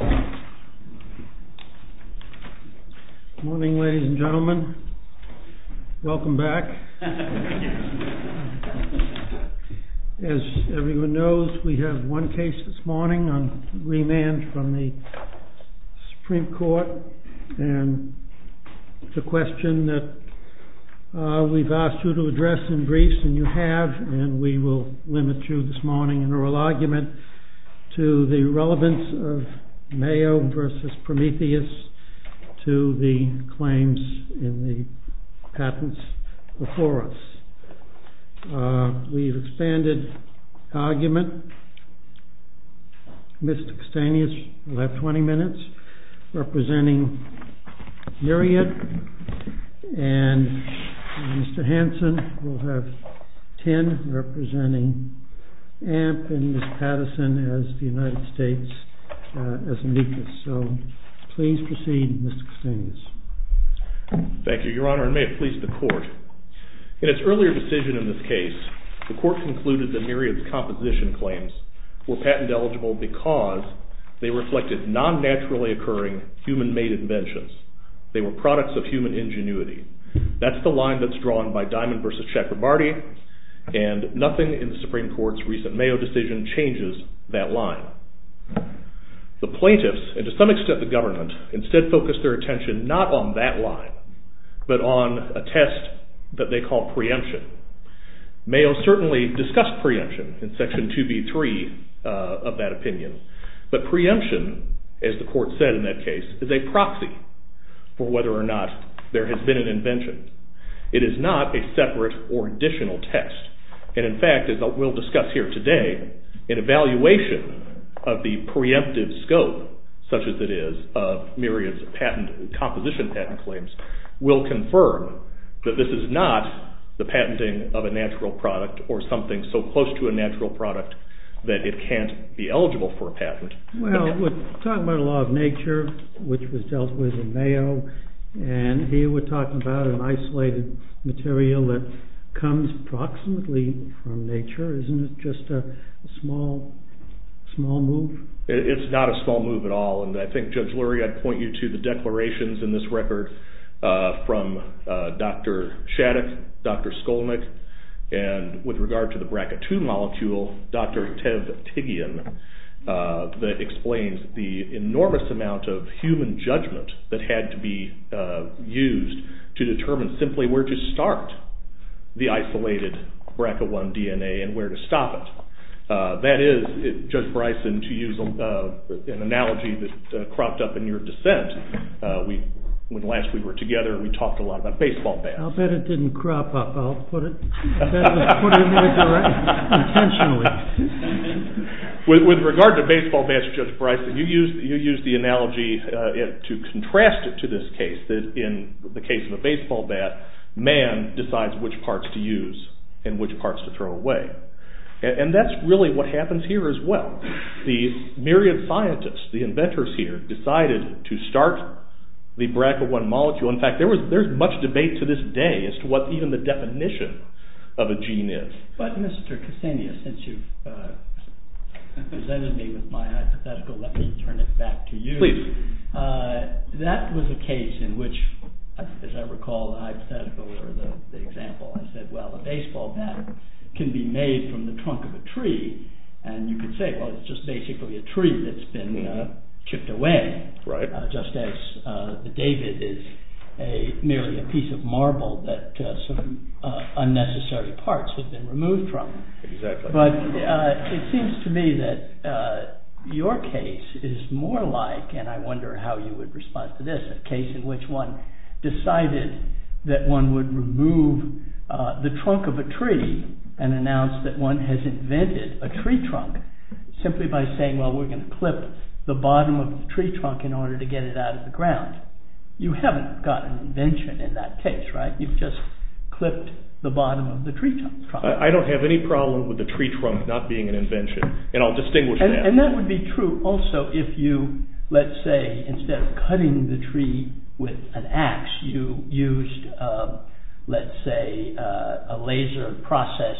Good morning, ladies and gentlemen. Welcome back. As everyone knows, we have one case this morning on remand from the Supreme Court, and it's a question that we've asked you to address in briefs, and you have, and we will limit you this morning in oral argument to the relevance of Mayo v. Prometheus to the claims in the patents before us. We've expanded the argument. Mr. Kostanius will have 20 minutes representing Myriad, and Mr. Madison has the United States as a weakness. So please proceed, Mr. Kostanius. MR. KOSTANIUS Thank you, Your Honor, and may it please the Court. In its earlier decision in this case, the Court concluded that Myriad's composition claims were patent eligible because they reflected non-naturally occurring human-made inventions. They were products of human ingenuity. That's the line that's drawn by Diamond v. Chakrabarty, and nothing in the Supreme Court's case, the Mayo decision, changes that line. The plaintiffs, and to some extent the government, instead focus their attention not on that line, but on a test that they call preemption. Mayo certainly discussed preemption in Section 2B.3 of that opinion, but preemption, as the Court said in that case, is a proxy for whether or not there has been an invention. It is not a separate or additional test. And in fact, as we'll discuss here today, an evaluation of the preemptive scope, such as it is of Myriad's composition patent claims, will confirm that this is not the patenting of a natural product or something so close to a natural product that it can't be eligible for a patent. MR. MADISON Well, we're talking about a law of nature, which was dealt with in Mayo, and here we're talking about an isolated material that comes approximately from nature. Isn't it just a small move? MR. LARSEN It's not a small move at all, and I think, Judge Lurie, I'd point you to the declarations in this record from Dr. Shattuck, Dr. Skolnick, and with regard to the BRCA2 molecule, Dr. Tev Tigian explains the enormous amount of human judgment that had to be used to determine simply where to start the isolated BRCA1 DNA and where to stop it. That is, Judge Bryson, to use an analogy that cropped up in your dissent, when last we were together we talked a lot about baseball bats. MR. BRYSON I'll bet it didn't crop up. I'll put it more directly, intentionally. MR. LARSEN With regard to baseball bats, Judge Bryson, you used the analogy to contrast it to this case, that in the case of a baseball bat, man decides which parts to use and which parts to throw away. And that's really what happens here as well. The myriad of scientists, the inventors here, decided to start the BRCA1 molecule. In fact, there's much debate to this day as to what even the definition of a gene is. MR. BRYSON But Mr. Ksenia, since you've presented me with my hypothetical, let me turn it back to you. MR. KSENIA Please. MR. BRYSON That was a case in which, as I recall, the hypothetical or the example, I said, well, a baseball bat can be made from the trunk of a tree. And you could say, well, it's just basically a tree that's been chipped away, just as the David is merely a piece of marble that some unnecessary parts have been removed from. MR. KSENIA Exactly. MR. BRYSON But it seems to me that your case is more like, and I wonder how you would respond to this, a case in which one decided that one would remove the trunk of a tree and announced that one has invented a tree trunk simply by saying, well, we're going to clip the bottom of the tree trunk in order to get it out of the ground. You haven't got an invention in that case, right? You've just clipped the bottom of the tree trunk. MR. KSENIA I don't have any problem with the tree trunk not being an invention, and I'll distinguish that. MR. BRYSON And that would be true also if you, let's say, instead of cutting the tree with an ax, you used, let's say, a laser process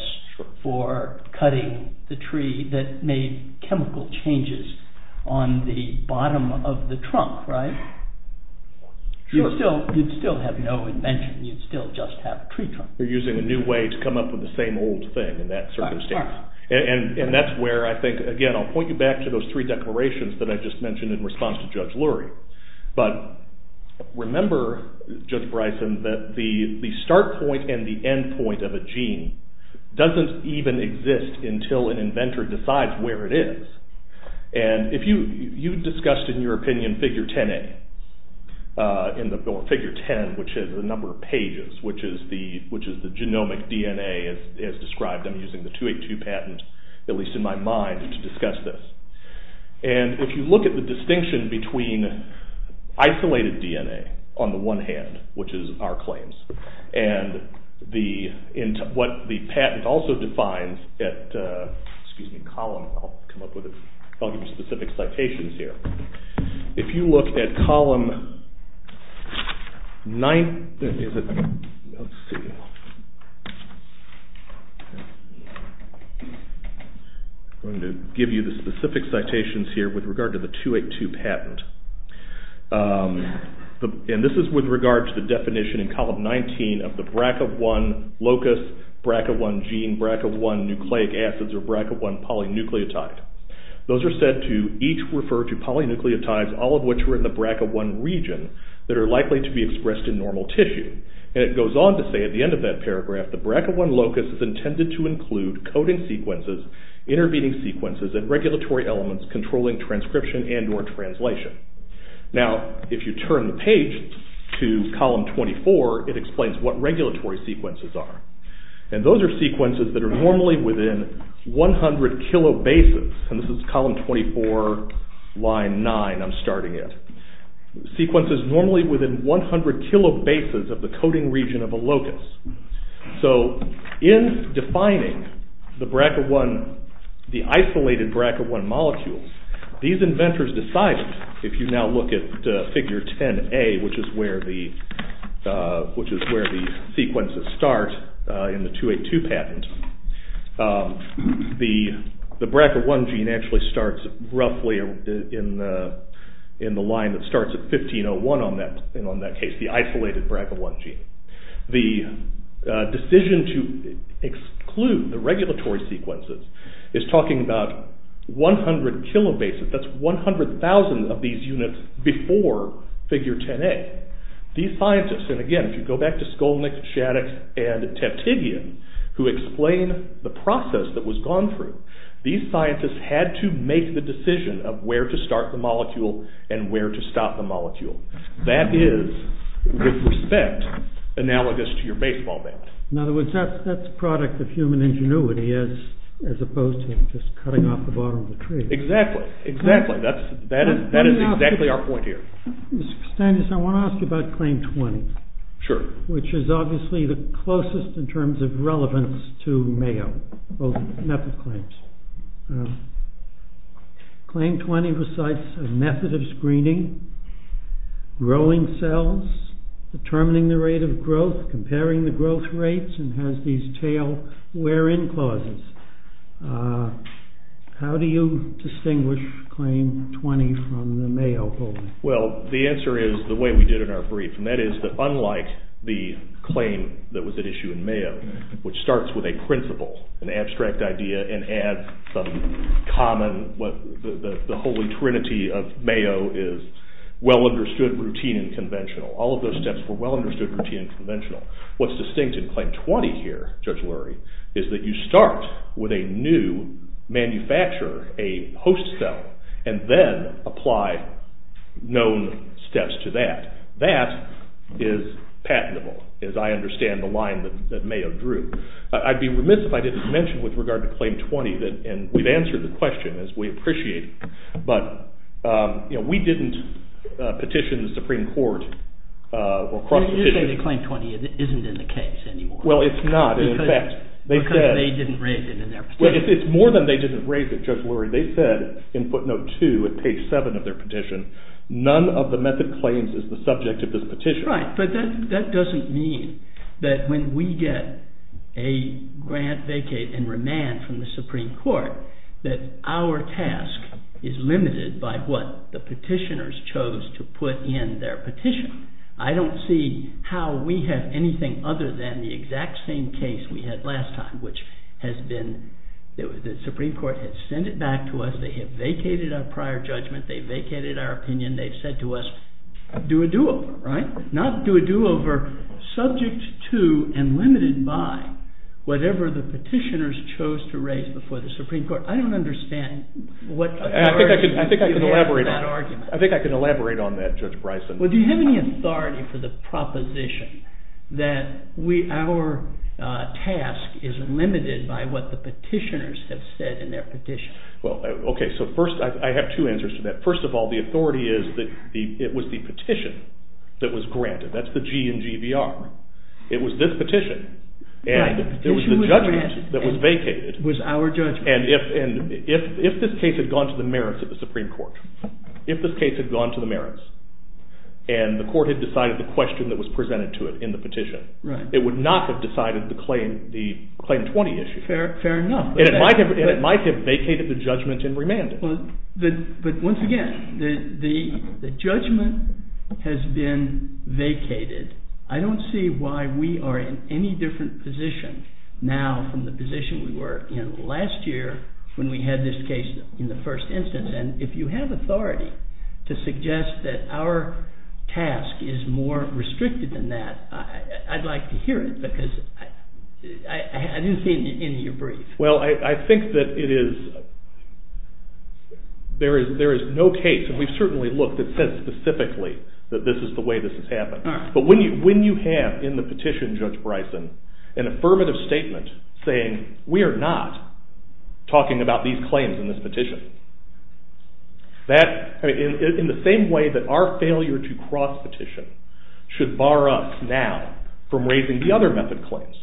for cutting the tree that made chemical changes on the bottom of the trunk, right? MR. KSENIA Sure. MR. BRYSON You'd still have no invention. You'd still just have a tree trunk. You're using a new way to come up with the same old thing in that circumstance. MR. BRYSON And that's where I think, again, I'll point you back to those three declarations that I just mentioned in response to Judge Lurie. But remember, Judge Bryson, that the start point and the end point of a gene doesn't even exist until an inventor decides where it is. And if you, you discussed in your opinion figure 10A, in the, or figure 10, which is the number of pages, which is the genomic DNA as described. I'm using the 282 patent, at least in my mind, to discuss this. And if you look at the distinction between isolated DNA on the one hand, which is our claims, and the, what the patent also defines at, excuse me, column, I'll come up with it, I'll give you specific citations here. If you look at column 9, let's see, I'm going to give you the specific citations here with regard to the 282 patent. And this is with regard to the definition in column 19 of the BRCAV1 locus, BRCAV1 gene, BRCAV1 nucleic acids, or BRCAV1 polynucleotide. Those are said to each refer to polynucleotides, all of which were in the BRCAV1 region that are likely to be expressed in normal tissue. And it goes on to say at the end of that paragraph, the BRCAV1 locus is intended to include coding sequences, intervening sequences, and regulatory elements controlling transcription and or translation. Now, if you turn the page to column 24, it explains what regulatory sequences are. And those are sequences that are normally within 100 kilobases, and this is column 24, line 9, I'm starting at, sequences normally within 100 kilobases of the coding region of a locus. So, in defining the BRCAV1, the isolated BRCAV1 molecules, these inventors decided, if you now look at figure 10a, which is where the sequences start in the 282 patent, the BRCAV1 gene actually starts roughly in the line that starts at 1501 on that case, the isolated BRCAV1 gene. The decision to exclude the regulatory sequences is talking about 100 kilobases, that's 100,000 of these units before figure 10a. These scientists, and again, if you go back to Skolnick, Shaddix, and Teptidian, who explain the process that was gone through, these scientists had to make the decision of where to start the molecule and where to stop the molecule. That is, with respect, analogous to your baseball bat. In other words, that's a product of human ingenuity as opposed to just cutting off the bottom of the tree. Exactly, exactly. That is exactly our point here. Mr. Stannis, I want to ask you about Claim 20. Sure. Which is obviously the closest in terms of relevance to Mayo, both method claims. Claim 20 recites a method of screening, growing cells, determining the rate of growth, comparing the growth rates, and has these tail-wear-in clauses. How do you distinguish Claim 20 from the Mayo holding? Well, the answer is the way we did in our brief, and that is that unlike the claim that was at issue in Mayo, which starts with a principle, an abstract idea, and adds some common, what the holy trinity of Mayo is, well-understood, routine, and conventional. All of those steps were well-understood, routine, and conventional. What's distinct in Claim 20 here, Judge Lurie, is that you start with a new manufacturer, a host cell, and then apply known steps to that. That is patentable, as I understand the line that Mayo drew. I'd be remiss if I didn't mention with regard to Claim 20, and we've answered the question as we appreciate it, but we didn't petition the Supreme Court. You're saying that Claim 20 isn't in the case anymore. Well, it's not. Because they didn't raise it in their petition. It's more than they didn't raise it, Judge Lurie. They said in footnote 2, at page 7 of their petition, none of the method claims is the subject of this petition. Right, but that doesn't mean that when we get a grant, vacate, and remand from the Supreme Court, that our task is limited by what the petitioners chose to put in their petition. I don't see how we have anything other than the exact same case we had last time, which has been that the Supreme Court has sent it back to us. They have vacated our prior judgment. They've vacated our opinion. They've said to us, do a do-over, right? Not do a do-over subject to and limited by whatever the petitioners chose to raise before the Supreme Court. I don't understand what authority you have for that argument. I think I can elaborate on that, Judge Bryson. Well, do you have any authority for the proposition that our task is limited by what the petitioners have said in their petition? Well, OK, so first, I have two answers to that. First of all, the authority is that it was the petition that was granted. That's the G in GBR. It was this petition. And there was the judgment that was vacated. It was our judgment. And if this case had gone to the merits of the Supreme Court, if this case had gone to the merits and the court had decided the question that was presented to it in the petition, it would not have decided the Claim 20 issue. Fair enough. And it might have vacated the judgment in remanding. But once again, the judgment has been vacated. I don't see why we are in any different position now from the position we were in last year when we had this case in the first instance. And if you have authority to suggest that our task is more restricted than that, I'd like to hear it. Because I didn't see it in your brief. Well, I think that there is no case. And we've certainly looked. It says specifically that this is the way this has happened. But when you have in the petition, Judge Bryson, an affirmative statement saying we are not talking about these claims in this petition, in the same way that our failure to cross petition should bar us now from raising the other method claims,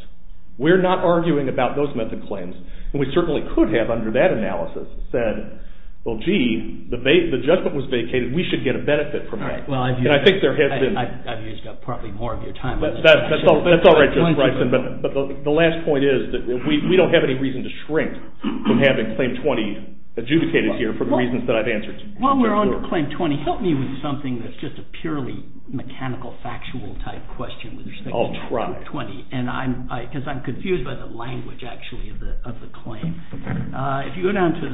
we're not arguing about those method claims. And we certainly could have under that analysis said, well, gee, the judgment was vacated. We should get a benefit from that. I've used up probably more of your time. That's all right, Judge Bryson. But the last point is that we don't have any reason to shrink from having Claim 20 adjudicated here for the reasons that I've answered. While we're on to Claim 20, help me with something that's just a purely mechanical, factual type question with respect to Claim 20. I'll try. Because I'm confused by the language, actually, of the claim. If you go down to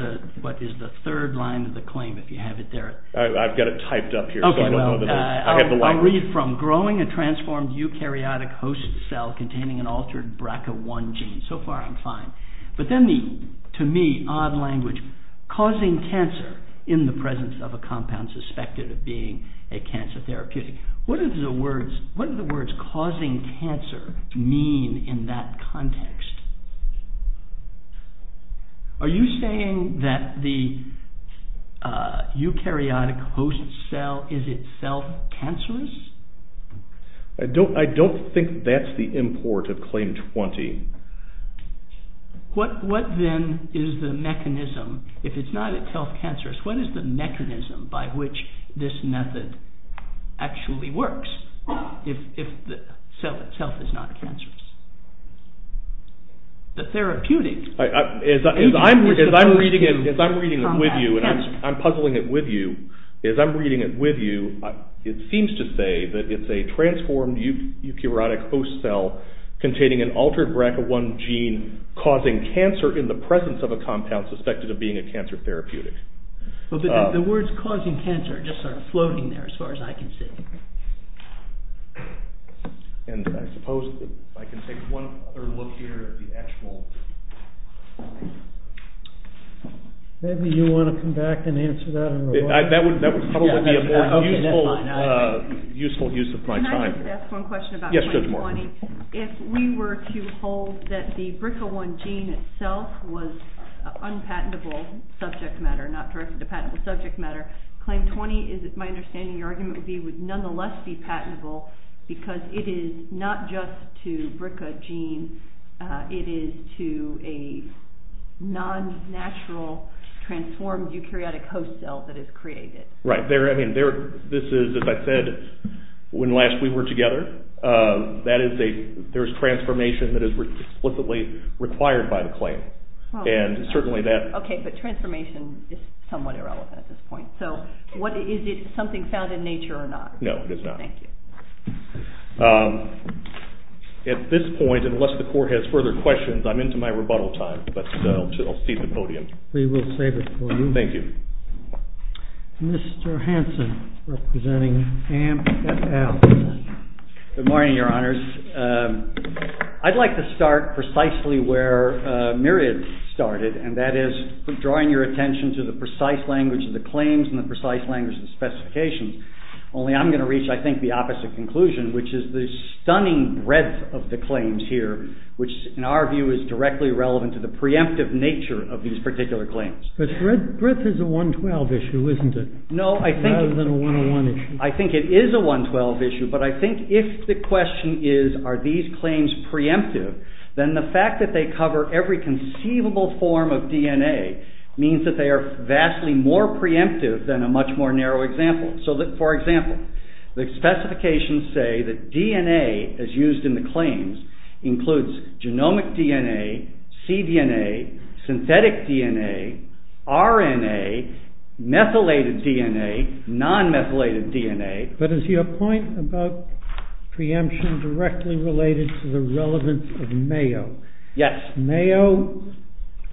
what is the third line of the claim, if you have it there. I've got it typed up here. I'll read from, growing a transformed eukaryotic host cell containing an altered BRCA1 gene. So far, I'm fine. But then the, to me, odd language, causing cancer in the presence of a compound suspected of being a cancer therapeutic. What do the words causing cancer mean in that context? Are you saying that the eukaryotic host cell is itself cancerous? I don't think that's the import of Claim 20. What then is the mechanism, if it's not itself cancerous, what is the mechanism by which this method actually works, if the cell itself is not cancerous? The therapeutic. As I'm reading it with you, and I'm puzzling it with you, as I'm reading it with you, it seems to say that it's a transformed eukaryotic host cell containing an altered BRCA1 gene causing cancer in the presence of a compound suspected of being a cancer therapeutic. But the words causing cancer just aren't floating there, as far as I can see. And I suppose, if I can take one other look here at the actual... Maybe you want to come back and answer that? That would probably be a more useful use of my time. Can I just ask one question about Claim 20? Yes, Judge Moore. If we were to hold that the BRCA1 gene itself was an unpatentable subject matter, not directed to patentable subject matter, Claim 20, my understanding of your argument would be, would nonetheless be patentable because it is not just to BRCA gene. It is to a non-natural transformed eukaryotic host cell that is created. Right. This is, as I said, when last we were together, that is, there is transformation that is explicitly required by the claim. And certainly that... Okay, but transformation is somewhat irrelevant at this point. So is it something found in nature or not? No, it is not. Thank you. At this point, unless the Court has further questions, I'm into my rebuttal time. But I'll cede the podium. We will save it for you. Thank you. Mr. Hanson, representing AMP et al. Good morning, Your Honors. I'd like to start precisely where Myriad started, and that is drawing your attention to the precise language of the claims and the precise language of the specifications. Only I'm going to reach, I think, the opposite conclusion, which is the stunning breadth of the claims here, which in our view is directly relevant to the preemptive nature of these particular claims. But breadth is a 112 issue, isn't it? No, I think... Rather than a 101 issue. I think it is a 112 issue. But I think if the question is, are these claims preemptive, then the fact that they cover every conceivable form of DNA means that they are vastly more preemptive than a much more narrow example. So, for example, the specifications say that DNA, as used in the claims, includes genomic DNA, cDNA, synthetic DNA, RNA, methylated DNA, non-methylated DNA... And MAO. Yes. MAO...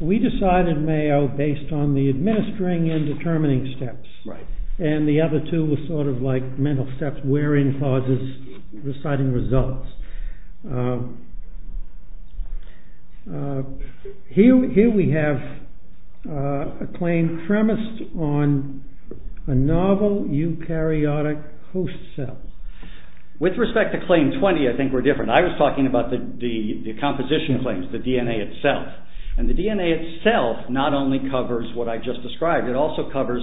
We decided MAO based on the administering and determining steps. Right. And the other two were sort of like mental steps, where in clauses reciting results. Here we have a claim premised on a novel eukaryotic host cell. With respect to Claim 20, I think we're different. I was talking about the composition claims, the DNA itself. And the DNA itself not only covers what I just described, it also covers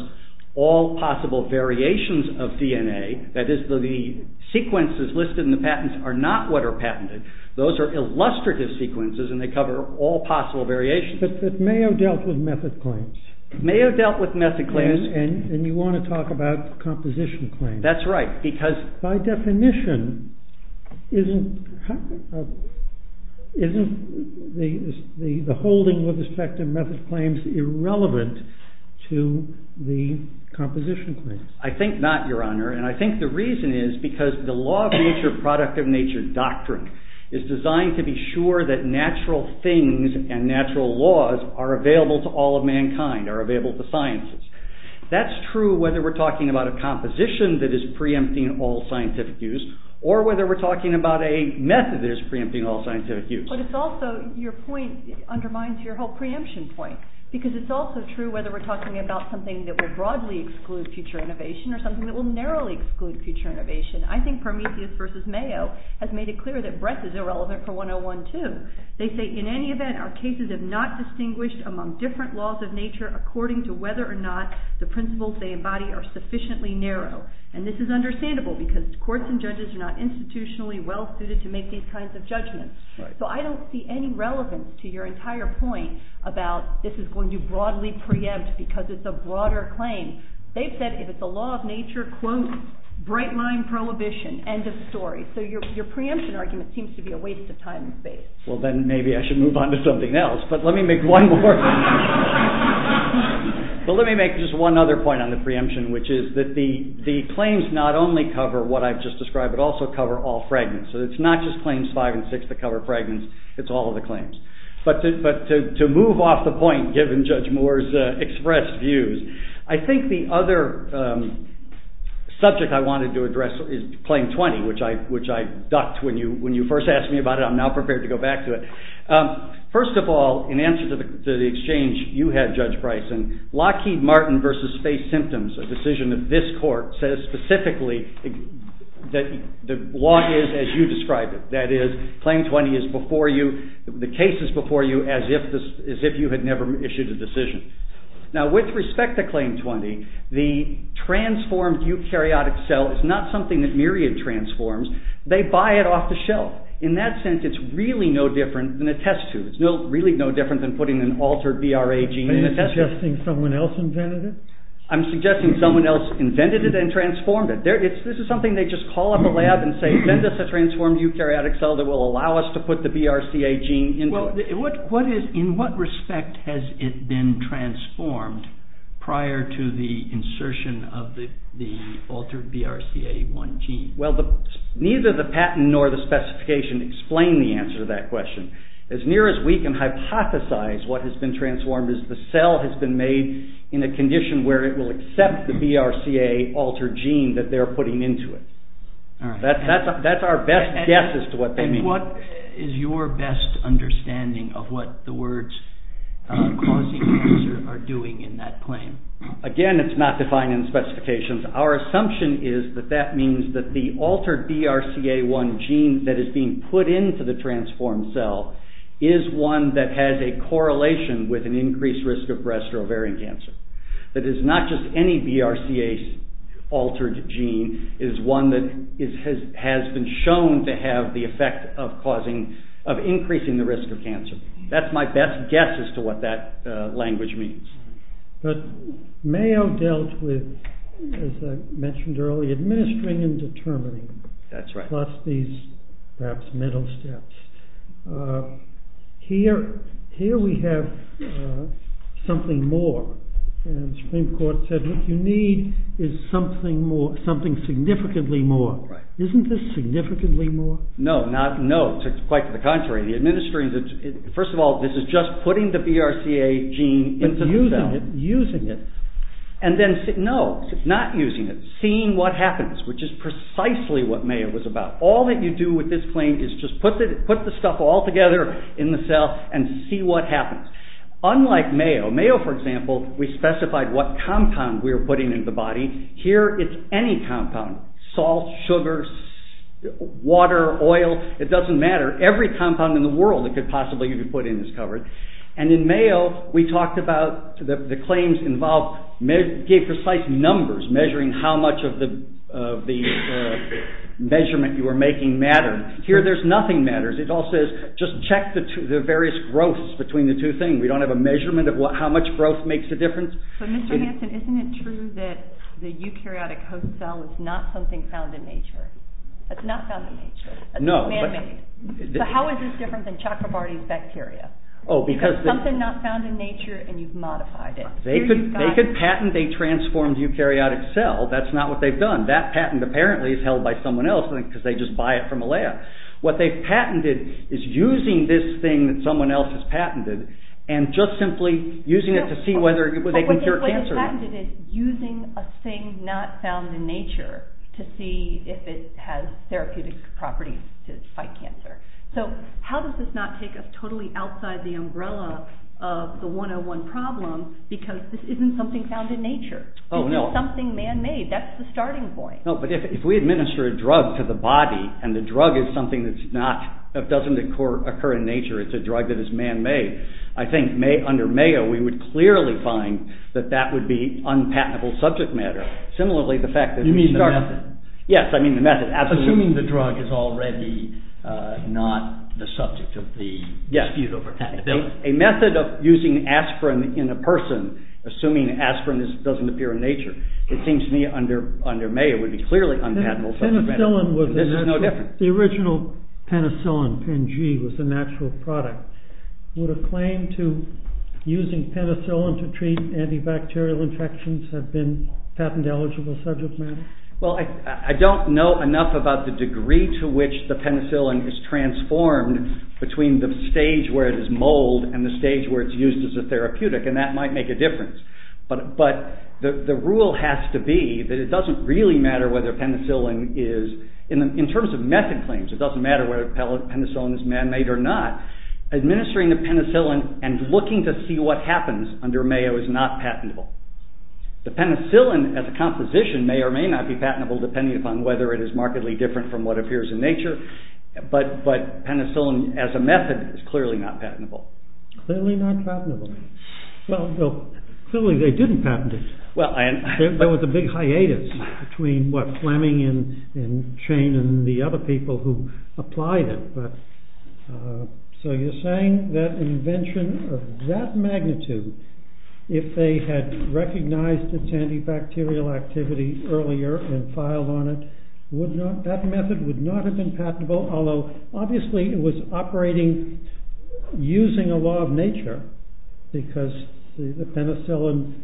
all possible variations of DNA. That is, the sequences listed in the patents are not what are patented. Those are illustrative sequences and they cover all possible variations. But MAO dealt with method claims. MAO dealt with method claims. And you want to talk about composition claims. That's right, because... Isn't the holding with respect to method claims irrelevant to the composition claims? I think not, Your Honor. And I think the reason is because the law of nature, product of nature doctrine, is designed to be sure that natural things and natural laws are available to all of mankind, are available to sciences. That's true whether we're talking about a composition that is preempting all scientific use or whether we're talking about a method that is preempting all scientific use. But it's also, your point undermines your whole preemption point. Because it's also true whether we're talking about something that will broadly exclude future innovation or something that will narrowly exclude future innovation. I think Prometheus versus MAO has made it clear that breadth is irrelevant for 101 too. They say, in any event, our cases have not distinguished among different laws of nature according to whether or not the principles they embody are sufficiently narrow. And this is understandable because courts and judges are not institutionally well-suited to make these kinds of judgments. So I don't see any relevance to your entire point about this is going to broadly preempt because it's a broader claim. They've said if it's a law of nature, quote, bright-line prohibition, end of story. So your preemption argument seems to be a waste of time and space. Well, then maybe I should move on to something else. But let me make one more. But let me make just one other point on the preemption, which is that the claims not only cover what I've just described, but also cover all fragments. So it's not just claims five and six that cover fragments. It's all of the claims. But to move off the point given Judge Moore's expressed views, I think the other subject I wanted to address is claim 20, which I ducked when you first asked me about it. I'm now prepared to go back to it. First of all, in answer to the exchange you had, Judge Bryson, Lockheed Martin v. Space Symptoms, a decision of this court, says specifically that the law is as you described it. That is, claim 20 is before you. The case is before you as if you had never issued a decision. Now, with respect to claim 20, the transformed eukaryotic cell is not something that Myriad transforms. They buy it off the shelf. In that sense, it's really no different than a test tube. It's really no different than putting an altered BRA gene in a test tube. Are you suggesting someone else invented it? I'm suggesting someone else invented it and transformed it. This is something they just call up a lab and say, send us a transformed eukaryotic cell that will allow us to put the BRCA gene into it. In what respect has it been transformed prior to the insertion of the altered BRCA1 gene? Neither the patent nor the specification explain the answer to that question. As near as we can hypothesize what has been transformed is the cell has been made in a condition where it will accept the BRCA altered gene that they're putting into it. That's our best guess as to what they mean. What is your best understanding of what the words causing cancer are doing in that claim? Again, it's not defined in the specifications. Our assumption is that that means that the altered BRCA1 gene that is being put into the transformed cell is one that has a correlation with an increased risk of breast or ovarian cancer. That is not just any BRCA altered gene. It is one that has been shown to have the effect of increasing the risk of cancer. That's my best guess as to what that language means. Mayo dealt with, as I mentioned earlier, administering and determining. That's right. Plus these perhaps middle steps. Here we have something more. The Supreme Court said what you need is something significantly more. Isn't this significantly more? No, quite to the contrary. First of all, this is just putting the BRCA gene into the cell. Using it. No, not using it. Seeing what happens, which is precisely what Mayo was about. All that you do with this claim is just put the stuff all together in the cell and see what happens. Unlike Mayo, Mayo for example, we specified what compound we were putting into the body. Here it's any compound. Salt, sugar, water, oil. It doesn't matter. Every compound in the world you could possibly put in is covered. In Mayo, we talked about the claims involved precise numbers. Measuring how much of the measurement you were making mattered. Here there's nothing that matters. It all says just check the various growths between the two things. We don't have a measurement of how much growth makes a difference. Mr. Hansen, isn't it true that the eukaryotic host cell is not something found in nature? It's not found in nature. How is this different than Chakrabarti's bacteria? It's something not found in nature and you've modified it. They could patent a transformed eukaryotic cell. That's not what they've done. That patent apparently is held by someone else because they just buy it from a lab. What they've patented is using this thing that someone else has patented and just simply using it to see whether they can cure cancer. What they've patented is using a thing not found in nature to see if it has therapeutic properties to fight cancer. How does this not take us totally outside the umbrella of the 101 problem because this isn't something found in nature? This is something man-made. That's the starting point. If we administer a drug to the body and the drug is something that doesn't occur in nature, it's a drug that is man-made, I think under Mayo we would clearly find that that would be unpatentable subject matter. You mean the method? Yes, I mean the method. Assuming the drug is already not the subject of the dispute over patentability. A method of using aspirin in a person, assuming aspirin doesn't appear in nature, it seems to me under Mayo would be clearly unpatentable subject matter. The original penicillin, Pen-G, was a natural product. Would a claim to using penicillin to treat antibacterial infections have been patent-eligible subject matter? Well, I don't know enough about the degree to which the penicillin is transformed between the stage where it is mulled and the stage where it's used as a therapeutic and that might make a difference. But the rule has to be that it doesn't really matter whether penicillin is, in terms of method claims, it doesn't matter whether penicillin is man-made or not, administering the penicillin and looking to see what happens under Mayo is not patentable. The penicillin as a composition may or may not be patentable depending upon whether it is markedly different from what appears in nature, but penicillin as a method is clearly not patentable. Clearly not patentable. Well, clearly they didn't patent it. There was a big hiatus between Fleming and Chain and the other people who applied it. So you're saying that invention of that magnitude, if they had recognized its antibacterial activity earlier and filed on it, that method would not have been patentable, although obviously it was operating using a law of nature because the penicillin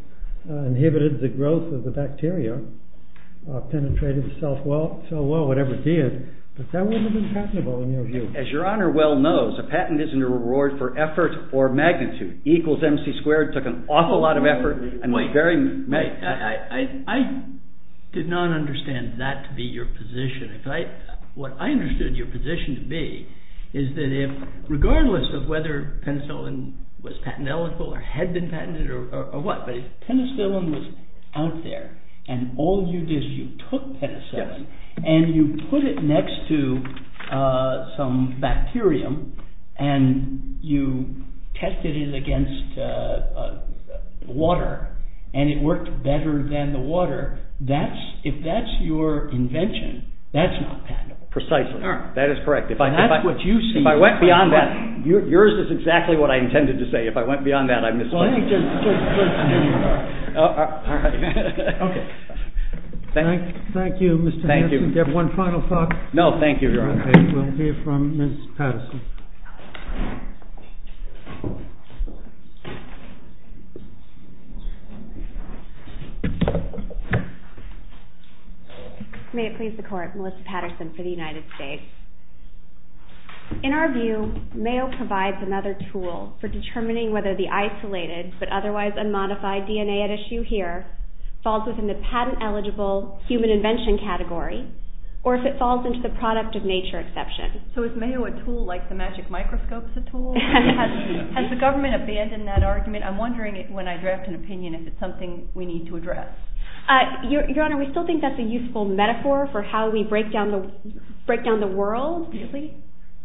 inhibited the growth of the bacteria, penetrated the cell wall, whatever it did. But that wouldn't have been patentable in your view. As your honor well knows, a patent isn't a reward for effort or magnitude. E equals MC squared took an awful lot of effort and was very… I did not understand that to be your position. What I understood your position to be is that regardless of whether penicillin was patent eligible or had been patented or what, but if penicillin was out there and all you did is you took penicillin and you put it next to some bacterium and you tested it against water and it worked better than the water, if that's your invention, that's not patentable. Precisely. That is correct. That's what you see. If I went beyond that, yours is exactly what I intended to say. If I went beyond that, I misplaced it. Thank you, Mr. Henderson. Do you have one final thought? No, thank you, your honor. Okay, we'll hear from Ms. Patterson. May it please the court, Melissa Patterson for the United States. In our view, Mayo provides another tool for determining whether the isolated but otherwise unmodified DNA at issue here falls within the patent eligible human invention category or if it falls into the product of nature exception. So is Mayo a tool like the magic microscope is a tool? Has the government abandoned that argument? I'm wondering when I draft an opinion if it's something we need to address. Your honor, we still think that's a useful metaphor for how we break down the world. Really?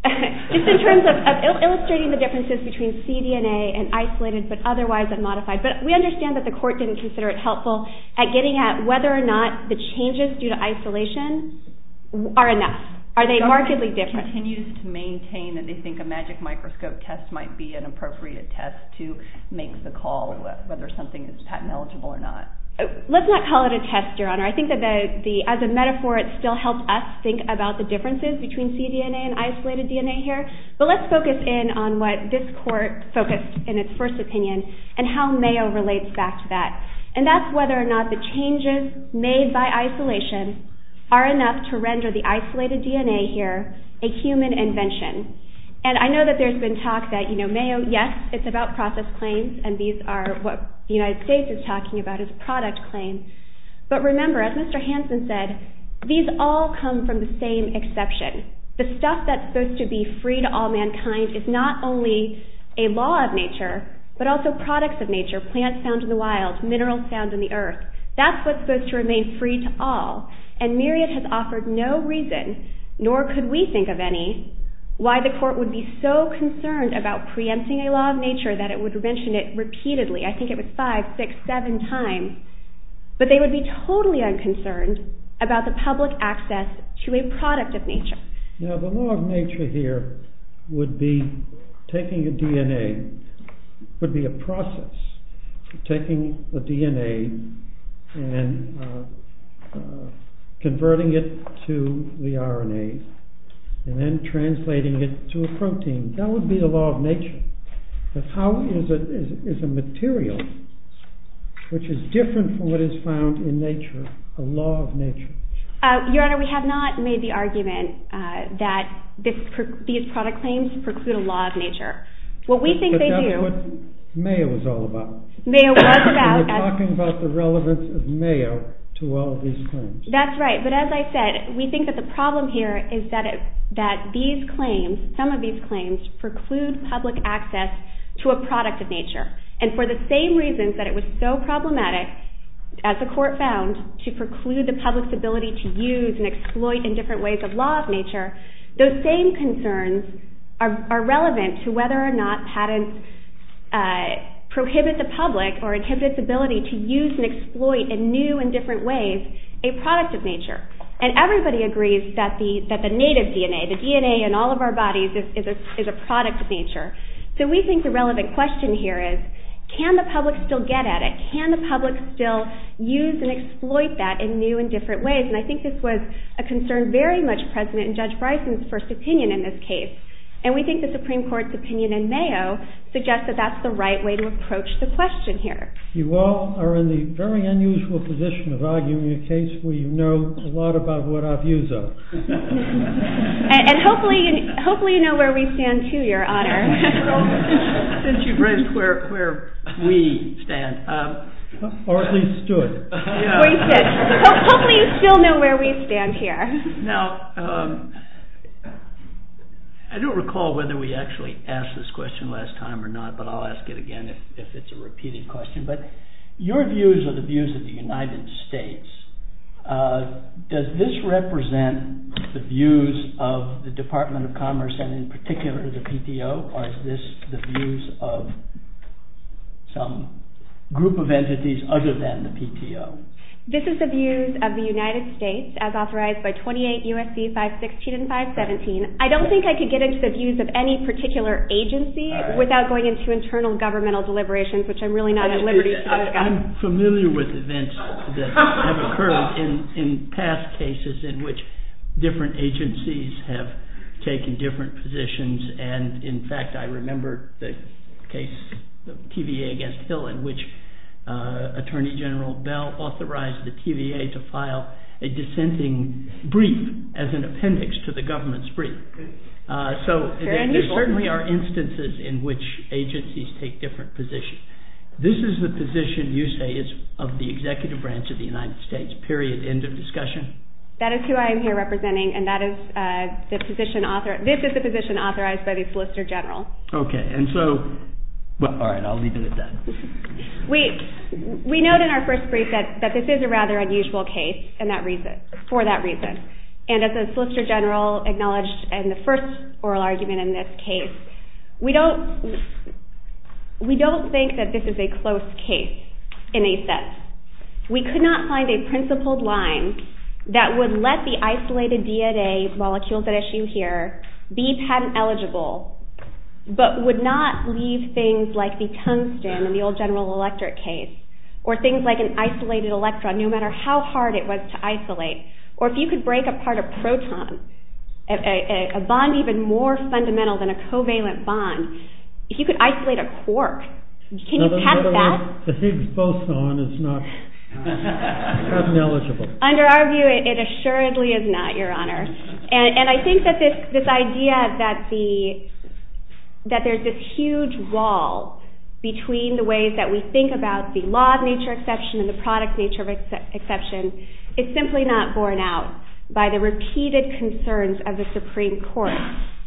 Just in terms of illustrating the differences between cDNA and isolated but otherwise unmodified. But we understand that the court didn't consider it helpful at getting at whether or not the changes due to isolation are enough. Are they markedly different? The court continues to maintain that they think a magic microscope test might be an appropriate test to make the call whether something is patent eligible or not. Let's not call it a test, your honor. I think that as a metaphor it still helps us think about the differences between cDNA and isolated DNA here. But let's focus in on what this court focused in its first opinion and how Mayo relates back to that. And that's whether or not the changes made by isolation are enough to render the isolated DNA here a human invention. And I know that there's been talk that, you know, Mayo, yes, it's about process claims and these are what the United States is talking about is product claims. But remember, as Mr. Hansen said, these all come from the same exception. The stuff that's supposed to be free to all mankind is not only a law of nature but also products of nature, plants found in the wild, minerals found in the earth. That's what's supposed to remain free to all. And Myriad has offered no reason, nor could we think of any, why the court would be so concerned about preempting a law of nature that it would mention it repeatedly. I think it was five, six, seven times. But they would be totally unconcerned about the public access to a product of nature. Now the law of nature here would be taking a DNA, would be a process of taking a DNA and converting it to the RNA and then translating it to a protein. That would be a law of nature. But how is a material which is different from what is found in nature a law of nature? Your Honor, we have not made the argument that these product claims preclude a law of nature. But that's what Mayo is all about. Mayo was about… We're talking about the relevance of Mayo to all of these claims. That's right. But as I said, we think that the problem here is that these claims, some of these claims preclude public access to a product of nature. And for the same reasons that it was so problematic, as the court found, to preclude the public's ability to use and exploit in different ways a law of nature, those same concerns are relevant to whether or not patents prohibit the public or inhibit its ability to use and exploit in new and different ways a product of nature. And everybody agrees that the native DNA, the DNA in all of our bodies is a product of nature. So we think the relevant question here is, can the public still get at it? Can the public still use and exploit that in new and different ways? And I think this was a concern very much present in Judge Bryson's first opinion in this case. And we think the Supreme Court's opinion in Mayo suggests that that's the right way to approach the question here. You all are in the very unusual position of arguing a case where you know a lot about what our views are. And hopefully you know where we stand too, Your Honor. Since you've raised where we stand. Or at least stood. Hopefully you still know where we stand here. Now, I don't recall whether we actually asked this question last time or not, but I'll ask it again if it's a repeated question. But your views are the views of the United States. Does this represent the views of the Department of Commerce and in particular the PTO? Or is this the views of some group of entities other than the PTO? This is the views of the United States as authorized by 28 U.S.C. 516 and 517. I don't think I could get into the views of any particular agency without going into internal governmental deliberations, which I'm really not at liberty to do. I'm familiar with events that have occurred in past cases in which different agencies have taken different positions. And, in fact, I remember the case of TVA against Hill in which Attorney General Bell authorized the TVA to file a dissenting brief as an appendix to the government's brief. So there certainly are instances in which agencies take different positions. This is the position you say is of the executive branch of the United States, period, end of discussion? That is who I am here representing, and this is the position authorized by the Solicitor General. Okay, and so, well, all right, I'll leave it at that. We note in our first brief that this is a rather unusual case for that reason. And as the Solicitor General acknowledged in the first oral argument in this case, we don't think that this is a close case in a sense. We could not find a principled line that would let the isolated DNA molecules at issue here be patent eligible but would not leave things like the tungsten in the old General Electric case or things like an isolated electron, no matter how hard it was to isolate, or if you could break apart a proton, a bond even more fundamental than a covalent bond, if you could isolate a quark, can you patent that? The Higgs boson is not patent eligible. Under our view, it assuredly is not, Your Honor. And I think that this idea that there's this huge wall between the ways that we think about the law of nature exception and the product nature of exception is simply not borne out by the repeated concerns of the Supreme Court.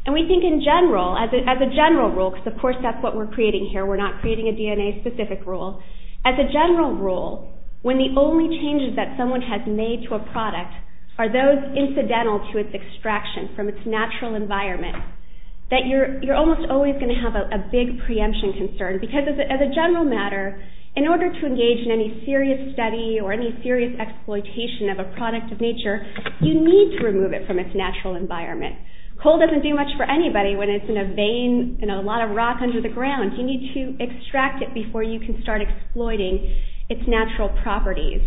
And we think in general, as a general rule, because of course that's what we're creating here, we're not creating a DNA-specific rule, as a general rule, when the only changes that someone has made to a product are those incidental to its extraction from its natural environment, that you're almost always going to have a big preemption concern because as a general matter, in order to engage in any serious study or any serious exploitation of a product of nature, you need to remove it from its natural environment. Coal doesn't do much for anybody when it's in a vein, in a lot of rock under the ground. You need to extract it before you can start exploiting its natural properties.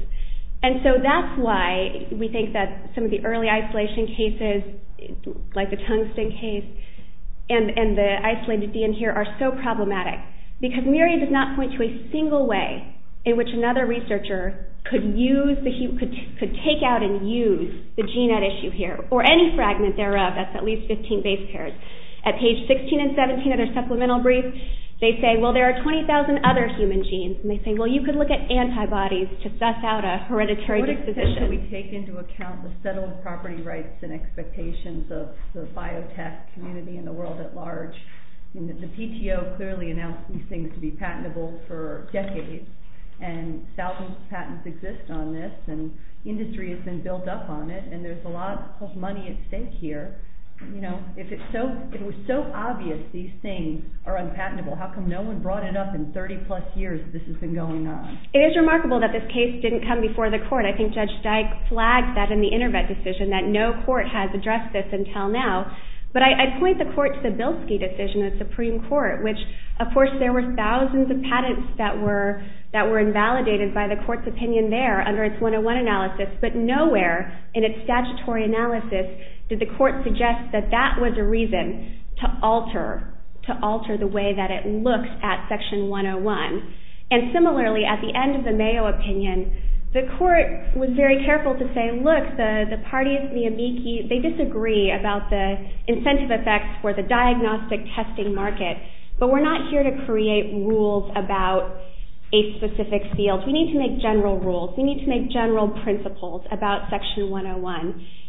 And so that's why we think that some of the early isolation cases, like the tungsten case, and the isolated DN here are so problematic. Because Myriad does not point to a single way in which another researcher could take out and use the gene at issue here, or any fragment thereof, that's at least 15 base pairs. At page 16 and 17 of their supplemental brief, they say, well, there are 20,000 other human genes. And they say, well, you could look at antibodies to suss out a hereditary disposition. How should we take into account the settled property rights and expectations of the biotech community and the world at large? The PTO clearly announced these things to be patentable for decades. And thousands of patents exist on this. And industry has been built up on it. And there's a lot of money at stake here. If it was so obvious these things are unpatentable, how come no one brought it up in 30-plus years this has been going on? It is remarkable that this case didn't come before the court. I think Judge Dyke flagged that in the Intervet decision, that no court has addressed this until now. But I point the court to the Bilski decision of the Supreme Court, which, of course, there were thousands of patents that were invalidated by the court's opinion there under its 101 analysis. But nowhere in its statutory analysis did the court suggest that that was a reason to alter the way that it looked at Section 101. And similarly, at the end of the Mayo opinion, the court was very careful to say, look, the parties, the amici, they disagree about the incentive effects for the diagnostic testing market. But we're not here to create rules about a specific field. We need to make general rules. We need to make general principles about Section 101.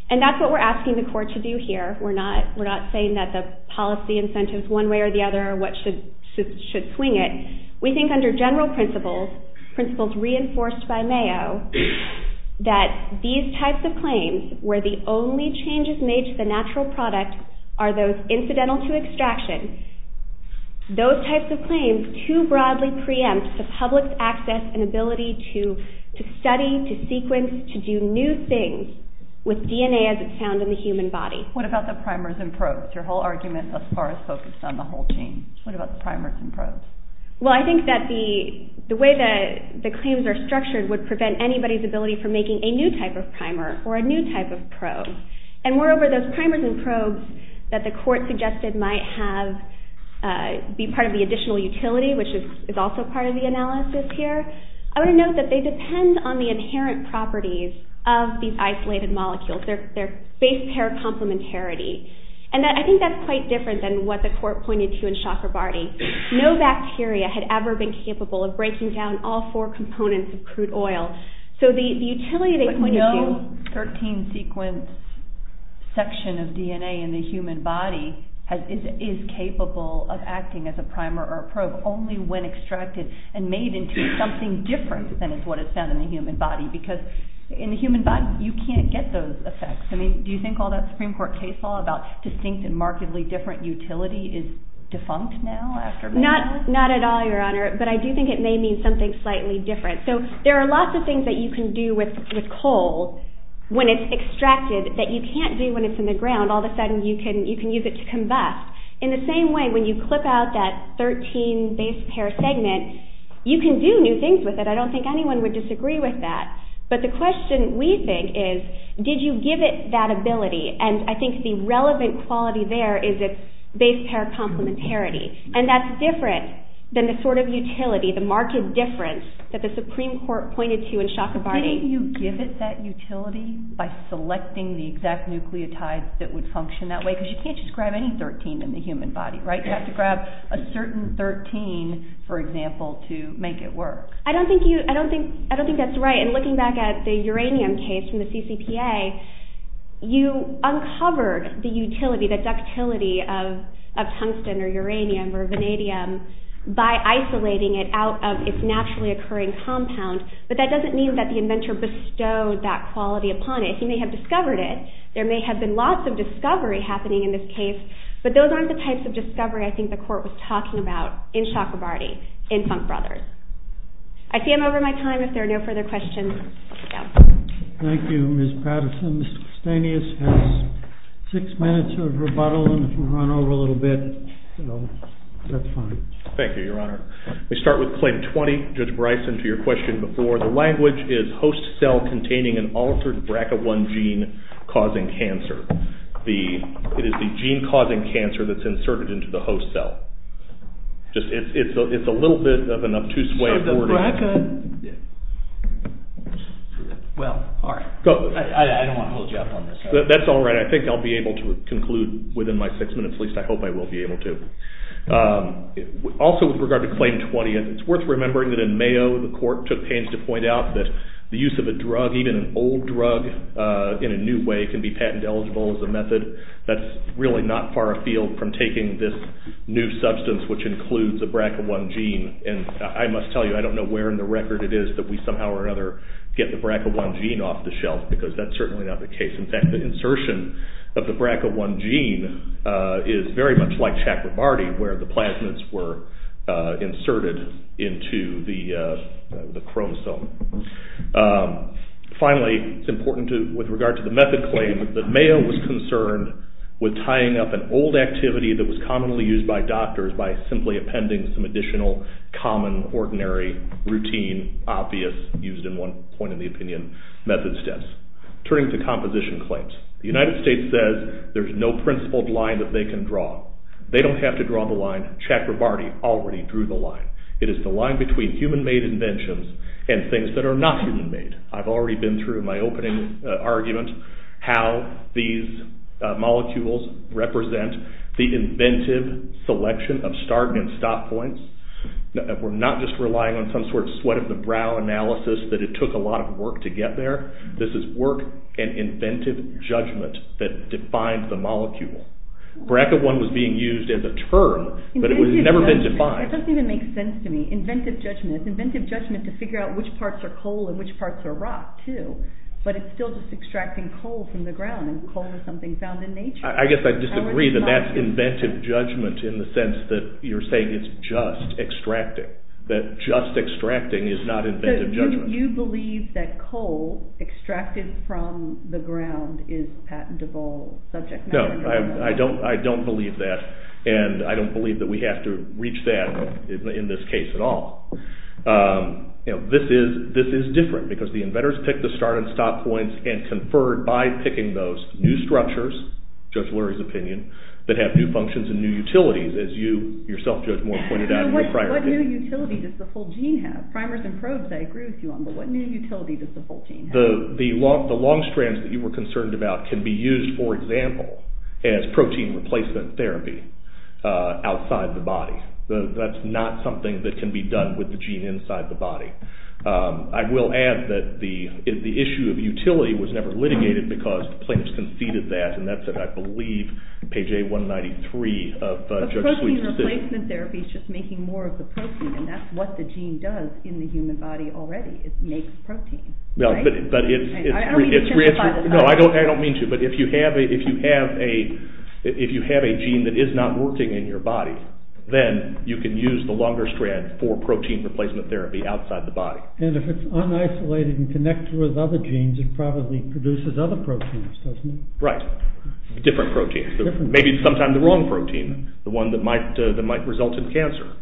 And that's what we're asking the court to do here. We're not saying that the policy incentives one way or the other should swing it. We think under general principles, principles reinforced by Mayo, that these types of claims, where the only changes made to the natural product are those incidental to extraction, those types of claims too broadly preempt the public's access and ability to study, to sequence, to do new things with DNA as it's found in the human body. What about the primers and probes? Your whole argument thus far has focused on the whole team. What about the primers and probes? Well, I think that the way that the claims are structured would prevent anybody's ability for making a new type of primer or a new type of probe. And moreover, those primers and probes that the court suggested might be part of the additional utility, which is also part of the analysis here, I want to note that they depend on the inherent properties of these isolated molecules. They're base pair complementarity. And I think that's quite different than what the court pointed to in Shocker-Barty. No bacteria had ever been capable of breaking down all four components of crude oil. So the utility they pointed to... But no 13-sequence section of DNA in the human body is capable of acting as a primer or a probe only when extracted and made into something different than is what is found in the human body because in the human body you can't get those effects. I mean, do you think all that Supreme Court case law about distinct and markedly different utility is defunct now? Not at all, Your Honor. But I do think it may mean something slightly different. So there are lots of things that you can do with coal when it's extracted that you can't do when it's in the ground. All of a sudden you can use it to combust. In the same way, when you clip out that 13 base pair segment, you can do new things with it. I don't think anyone would disagree with that. But the question we think is, did you give it that ability? And I think the relevant quality there is its base pair complementarity. And that's different than the sort of utility, the marked difference that the Supreme Court pointed to in Shocker-Barty. Didn't you give it that utility by selecting the exact nucleotides that would function that way? Because you can't just grab any 13 in the human body, right? You have to grab a certain 13, for example, to make it work. I don't think that's right. And looking back at the uranium case from the CCPA, you uncovered the utility, the ductility of tungsten or uranium or vanadium by isolating it out of its naturally occurring compound. But that doesn't mean that the inventor bestowed that quality upon it. He may have discovered it. There may have been lots of discovery happening in this case, but those aren't the types of discovery I think the court was talking about in Shocker-Barty, in Funk Brothers. I see I'm over my time. If there are no further questions, let's go. Thank you, Ms. Patterson. Mr. Stanius has six minutes of rebuttal, and if we run over a little bit, that's fine. Thank you, Your Honor. We start with Claim 20. Judge Bryson, to your question before, the language is host cell containing an altered bracket 1 gene causing cancer. It is the gene causing cancer that's inserted into the host cell. It's a little bit of an obtuse way of wording. Well, all right. I don't want to hold you up on this. That's all right. I think I'll be able to conclude within my six minutes. At least I hope I will be able to. Also, with regard to Claim 20, it's worth remembering that in Mayo, the court took pains to point out that the use of a drug, even an old drug in a new way, can be patent eligible as a method. That's really not far afield from taking this new substance, which includes a bracket 1 gene. And I must tell you, I don't know where in the record it is that we somehow or another get the bracket 1 gene off the shelf, because that's certainly not the case. In fact, the insertion of the bracket 1 gene is very much like Chakrabarty, where the plasmids were inserted into the chromosome. Finally, it's important, with regard to the method claim, that Mayo was concerned with tying up an old activity that was commonly used by doctors by simply appending some additional common, ordinary, routine, obvious, used-in-one-point-of-the-opinion method steps. Turning to composition claims, the United States says there's no principled line that they can draw. They don't have to draw the line. It is the line between human-made inventions and things that are not human-made. I've already been through, in my opening argument, how these molecules represent the inventive selection of start and stop points. We're not just relying on some sort of sweat-of-the-brow analysis that it took a lot of work to get there. This is work and inventive judgment that defines the molecule. Bracket 1 was being used as a term, but it has never been defined. It doesn't even make sense to me. Inventive judgment. It's inventive judgment to figure out which parts are coal and which parts are rock, too. But it's still just extracting coal from the ground, and coal is something found in nature. I guess I disagree that that's inventive judgment in the sense that you're saying it's just extracting. That just extracting is not inventive judgment. So you believe that coal extracted from the ground is patentable subject matter? No, I don't believe that, and I don't believe that we have to reach that in this case at all. This is different, because the inventors picked the start and stop points and conferred by picking those new structures, Judge Lurie's opinion, that have new functions and new utilities, as you yourself, Judge Moore, pointed out in your prior paper. What new utility does the whole gene have? Primers and probes, I agree with you on, but what new utility does the whole gene have? The long strands that you were concerned about can be used, for example, as protein replacement therapy outside the body. That's not something that can be done with the gene inside the body. I will add that the issue of utility was never litigated because the plaintiffs conceded that, and that's at, I believe, page A193 of Judge Sweet's decision. But protein replacement therapy is just making more of the protein, and that's what the gene does in the human body already. It makes protein, right? I don't mean to pin the pot at home. No, I don't mean to, but if you have a gene that is not working in your body, then you can use the longer strand for protein replacement therapy outside the body. And if it's unisolated and connected with other genes, it probably produces other proteins, doesn't it? Right. Different proteins. Maybe sometimes the wrong protein, the one that might result in cancer.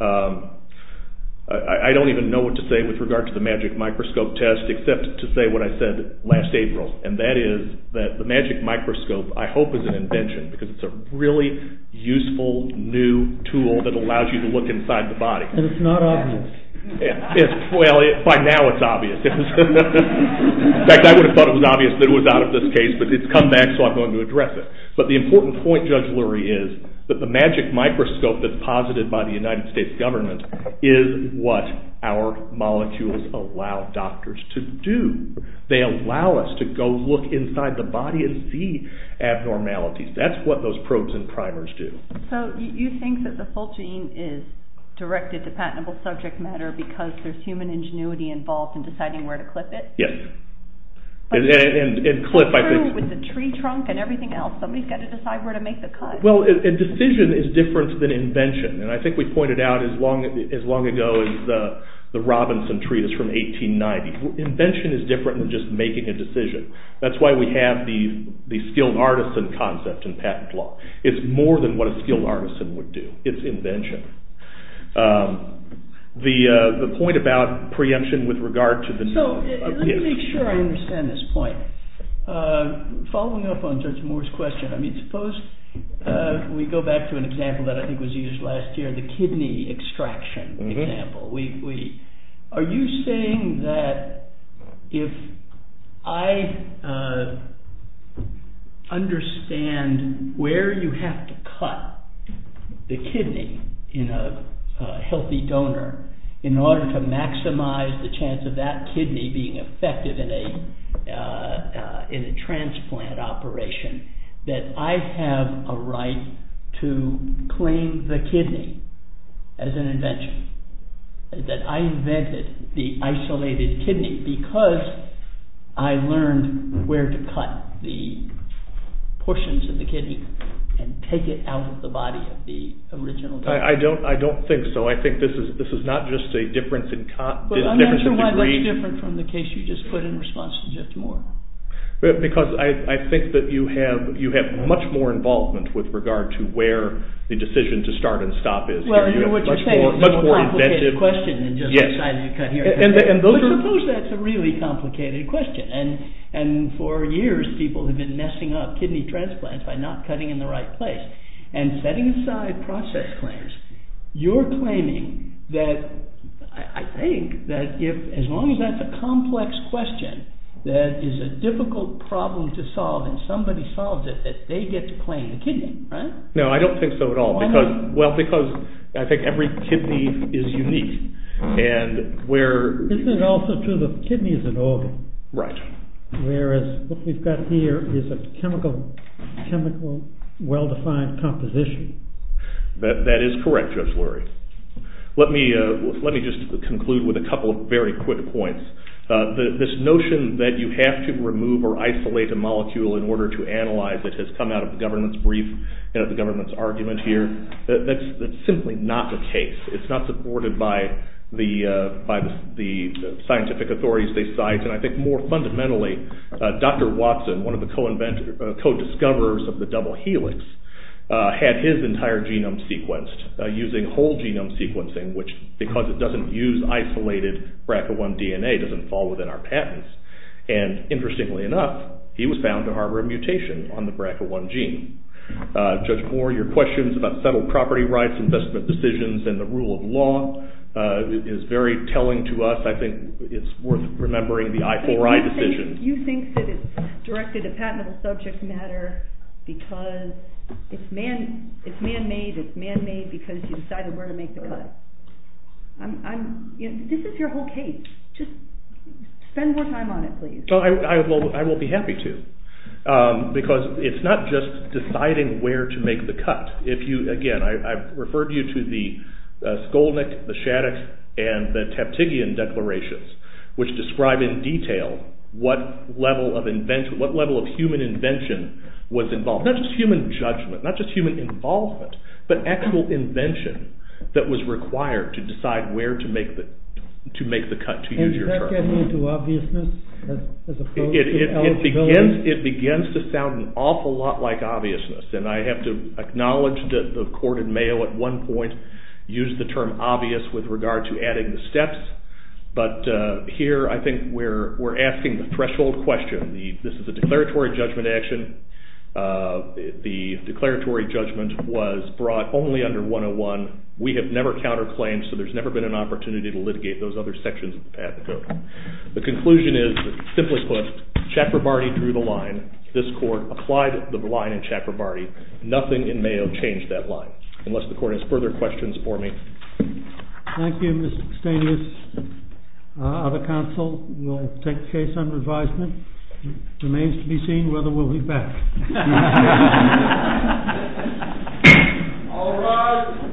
I don't even know what to say with regard to the magic microscope test except to say what I said last April, and that is that the magic microscope, I hope, is an invention because it's a really useful, new tool that allows you to look inside the body. And it's not obvious. Well, by now it's obvious. In fact, I would have thought it was obvious that it was out of this case, but it's come back, so I'm going to address it. But the important point, Judge Lurie, is that the magic microscope that's posited by the United States government is what our molecules allow doctors to do. They allow us to go look inside the body and see abnormalities. That's what those probes and primers do. So you think that the full gene is directed to patentable subject matter because there's human ingenuity involved in deciding where to clip it? Yes. It's true with the tree trunk and everything else. Somebody's got to decide where to make the cut. Well, a decision is different than invention, and I think we pointed out as long ago as the Robinson tree is from 1890. Invention is different than just making a decision. That's why we have the skilled artisan concept in patent law. It's more than what a skilled artisan would do. It's invention. The point about preemption with regard to the... Let me make sure I understand this point. Following up on Judge Moore's question, I mean, suppose we go back to an example that I think was used last year, the kidney extraction example. Are you saying that if I understand where you have to cut the kidney in a healthy donor in order to maximize the chance of that kidney being effective in a transplant operation, that I have a right to claim the kidney as an invention? That I invented the isolated kidney because I learned where to cut the portions of the kidney and take it out of the body of the original donor? I don't think so. I think this is not just a difference in degree. I'm not sure why it's different from the case you just put in response to Judge Moore. Because I think that you have much more involvement with regard to where the decision to start and stop is. Well, you know what you're saying? It's a complicated question than just deciding to cut here and there. But suppose that's a really complicated question. And for years, people have been messing up kidney transplants by not cutting in the right place. And setting aside process claims, you're claiming that I think that as long as that's a complex question that is a difficult problem to solve and somebody solves it, that they get to claim the kidney, right? No, I don't think so at all. Why not? Well, because I think every kidney is unique. Isn't it also true that the kidney is an organ? Right. Whereas what we've got here is a chemical well-defined composition. That is correct, Judge Lurie. Let me just conclude with a couple of very quick points. This notion that you have to remove or isolate a molecule in order to analyze it has come out of the government's brief and the government's argument here. That's simply not the case. It's not supported by the scientific authorities they cite. And I think more fundamentally, Dr. Watson, one of the co-discoverers of the double helix, had his entire genome sequenced using whole genome sequencing, which because it doesn't use isolated BRCA1 DNA doesn't fall within our patents. And interestingly enough, he was found to harbor a mutation on the BRCA1 gene. Judge Moore, your questions about settled property rights, investment decisions, and the rule of law is very telling to us. I think it's worth remembering the I4I decision. You think that it's directed at patentable subject matter because it's man-made, it's man-made because you decided where to make the cut. This is your whole case. Just spend more time on it, please. I will be happy to. Because it's not just deciding where to make the cut. Again, I've referred you to the Skolnick, the Shaddix, and the Taptigian declarations, which describe in detail what level of human invention was involved. Not just human judgment, not just human involvement, but actual invention that was required to decide where to make the cut, to use your term. And does that get me to obviousness as opposed to eligibility? It begins to sound an awful lot like obviousness. And I have to acknowledge that the court in Mayo at one point used the term obvious with regard to adding the steps. But here I think we're asking the threshold question. This is a declaratory judgment action. The declaratory judgment was brought only under 101. We have never counterclaimed, so there's never been an opportunity to litigate those other sections of the patent code. The conclusion is, simply put, Chakrabarty drew the line. This court applied the line in Chakrabarty. Nothing in Mayo changed that line. Unless the court has further questions for me. Thank you, Mr. Stainless. Other counsel will take the case under advisement. It remains to be seen whether we'll be back. All rise.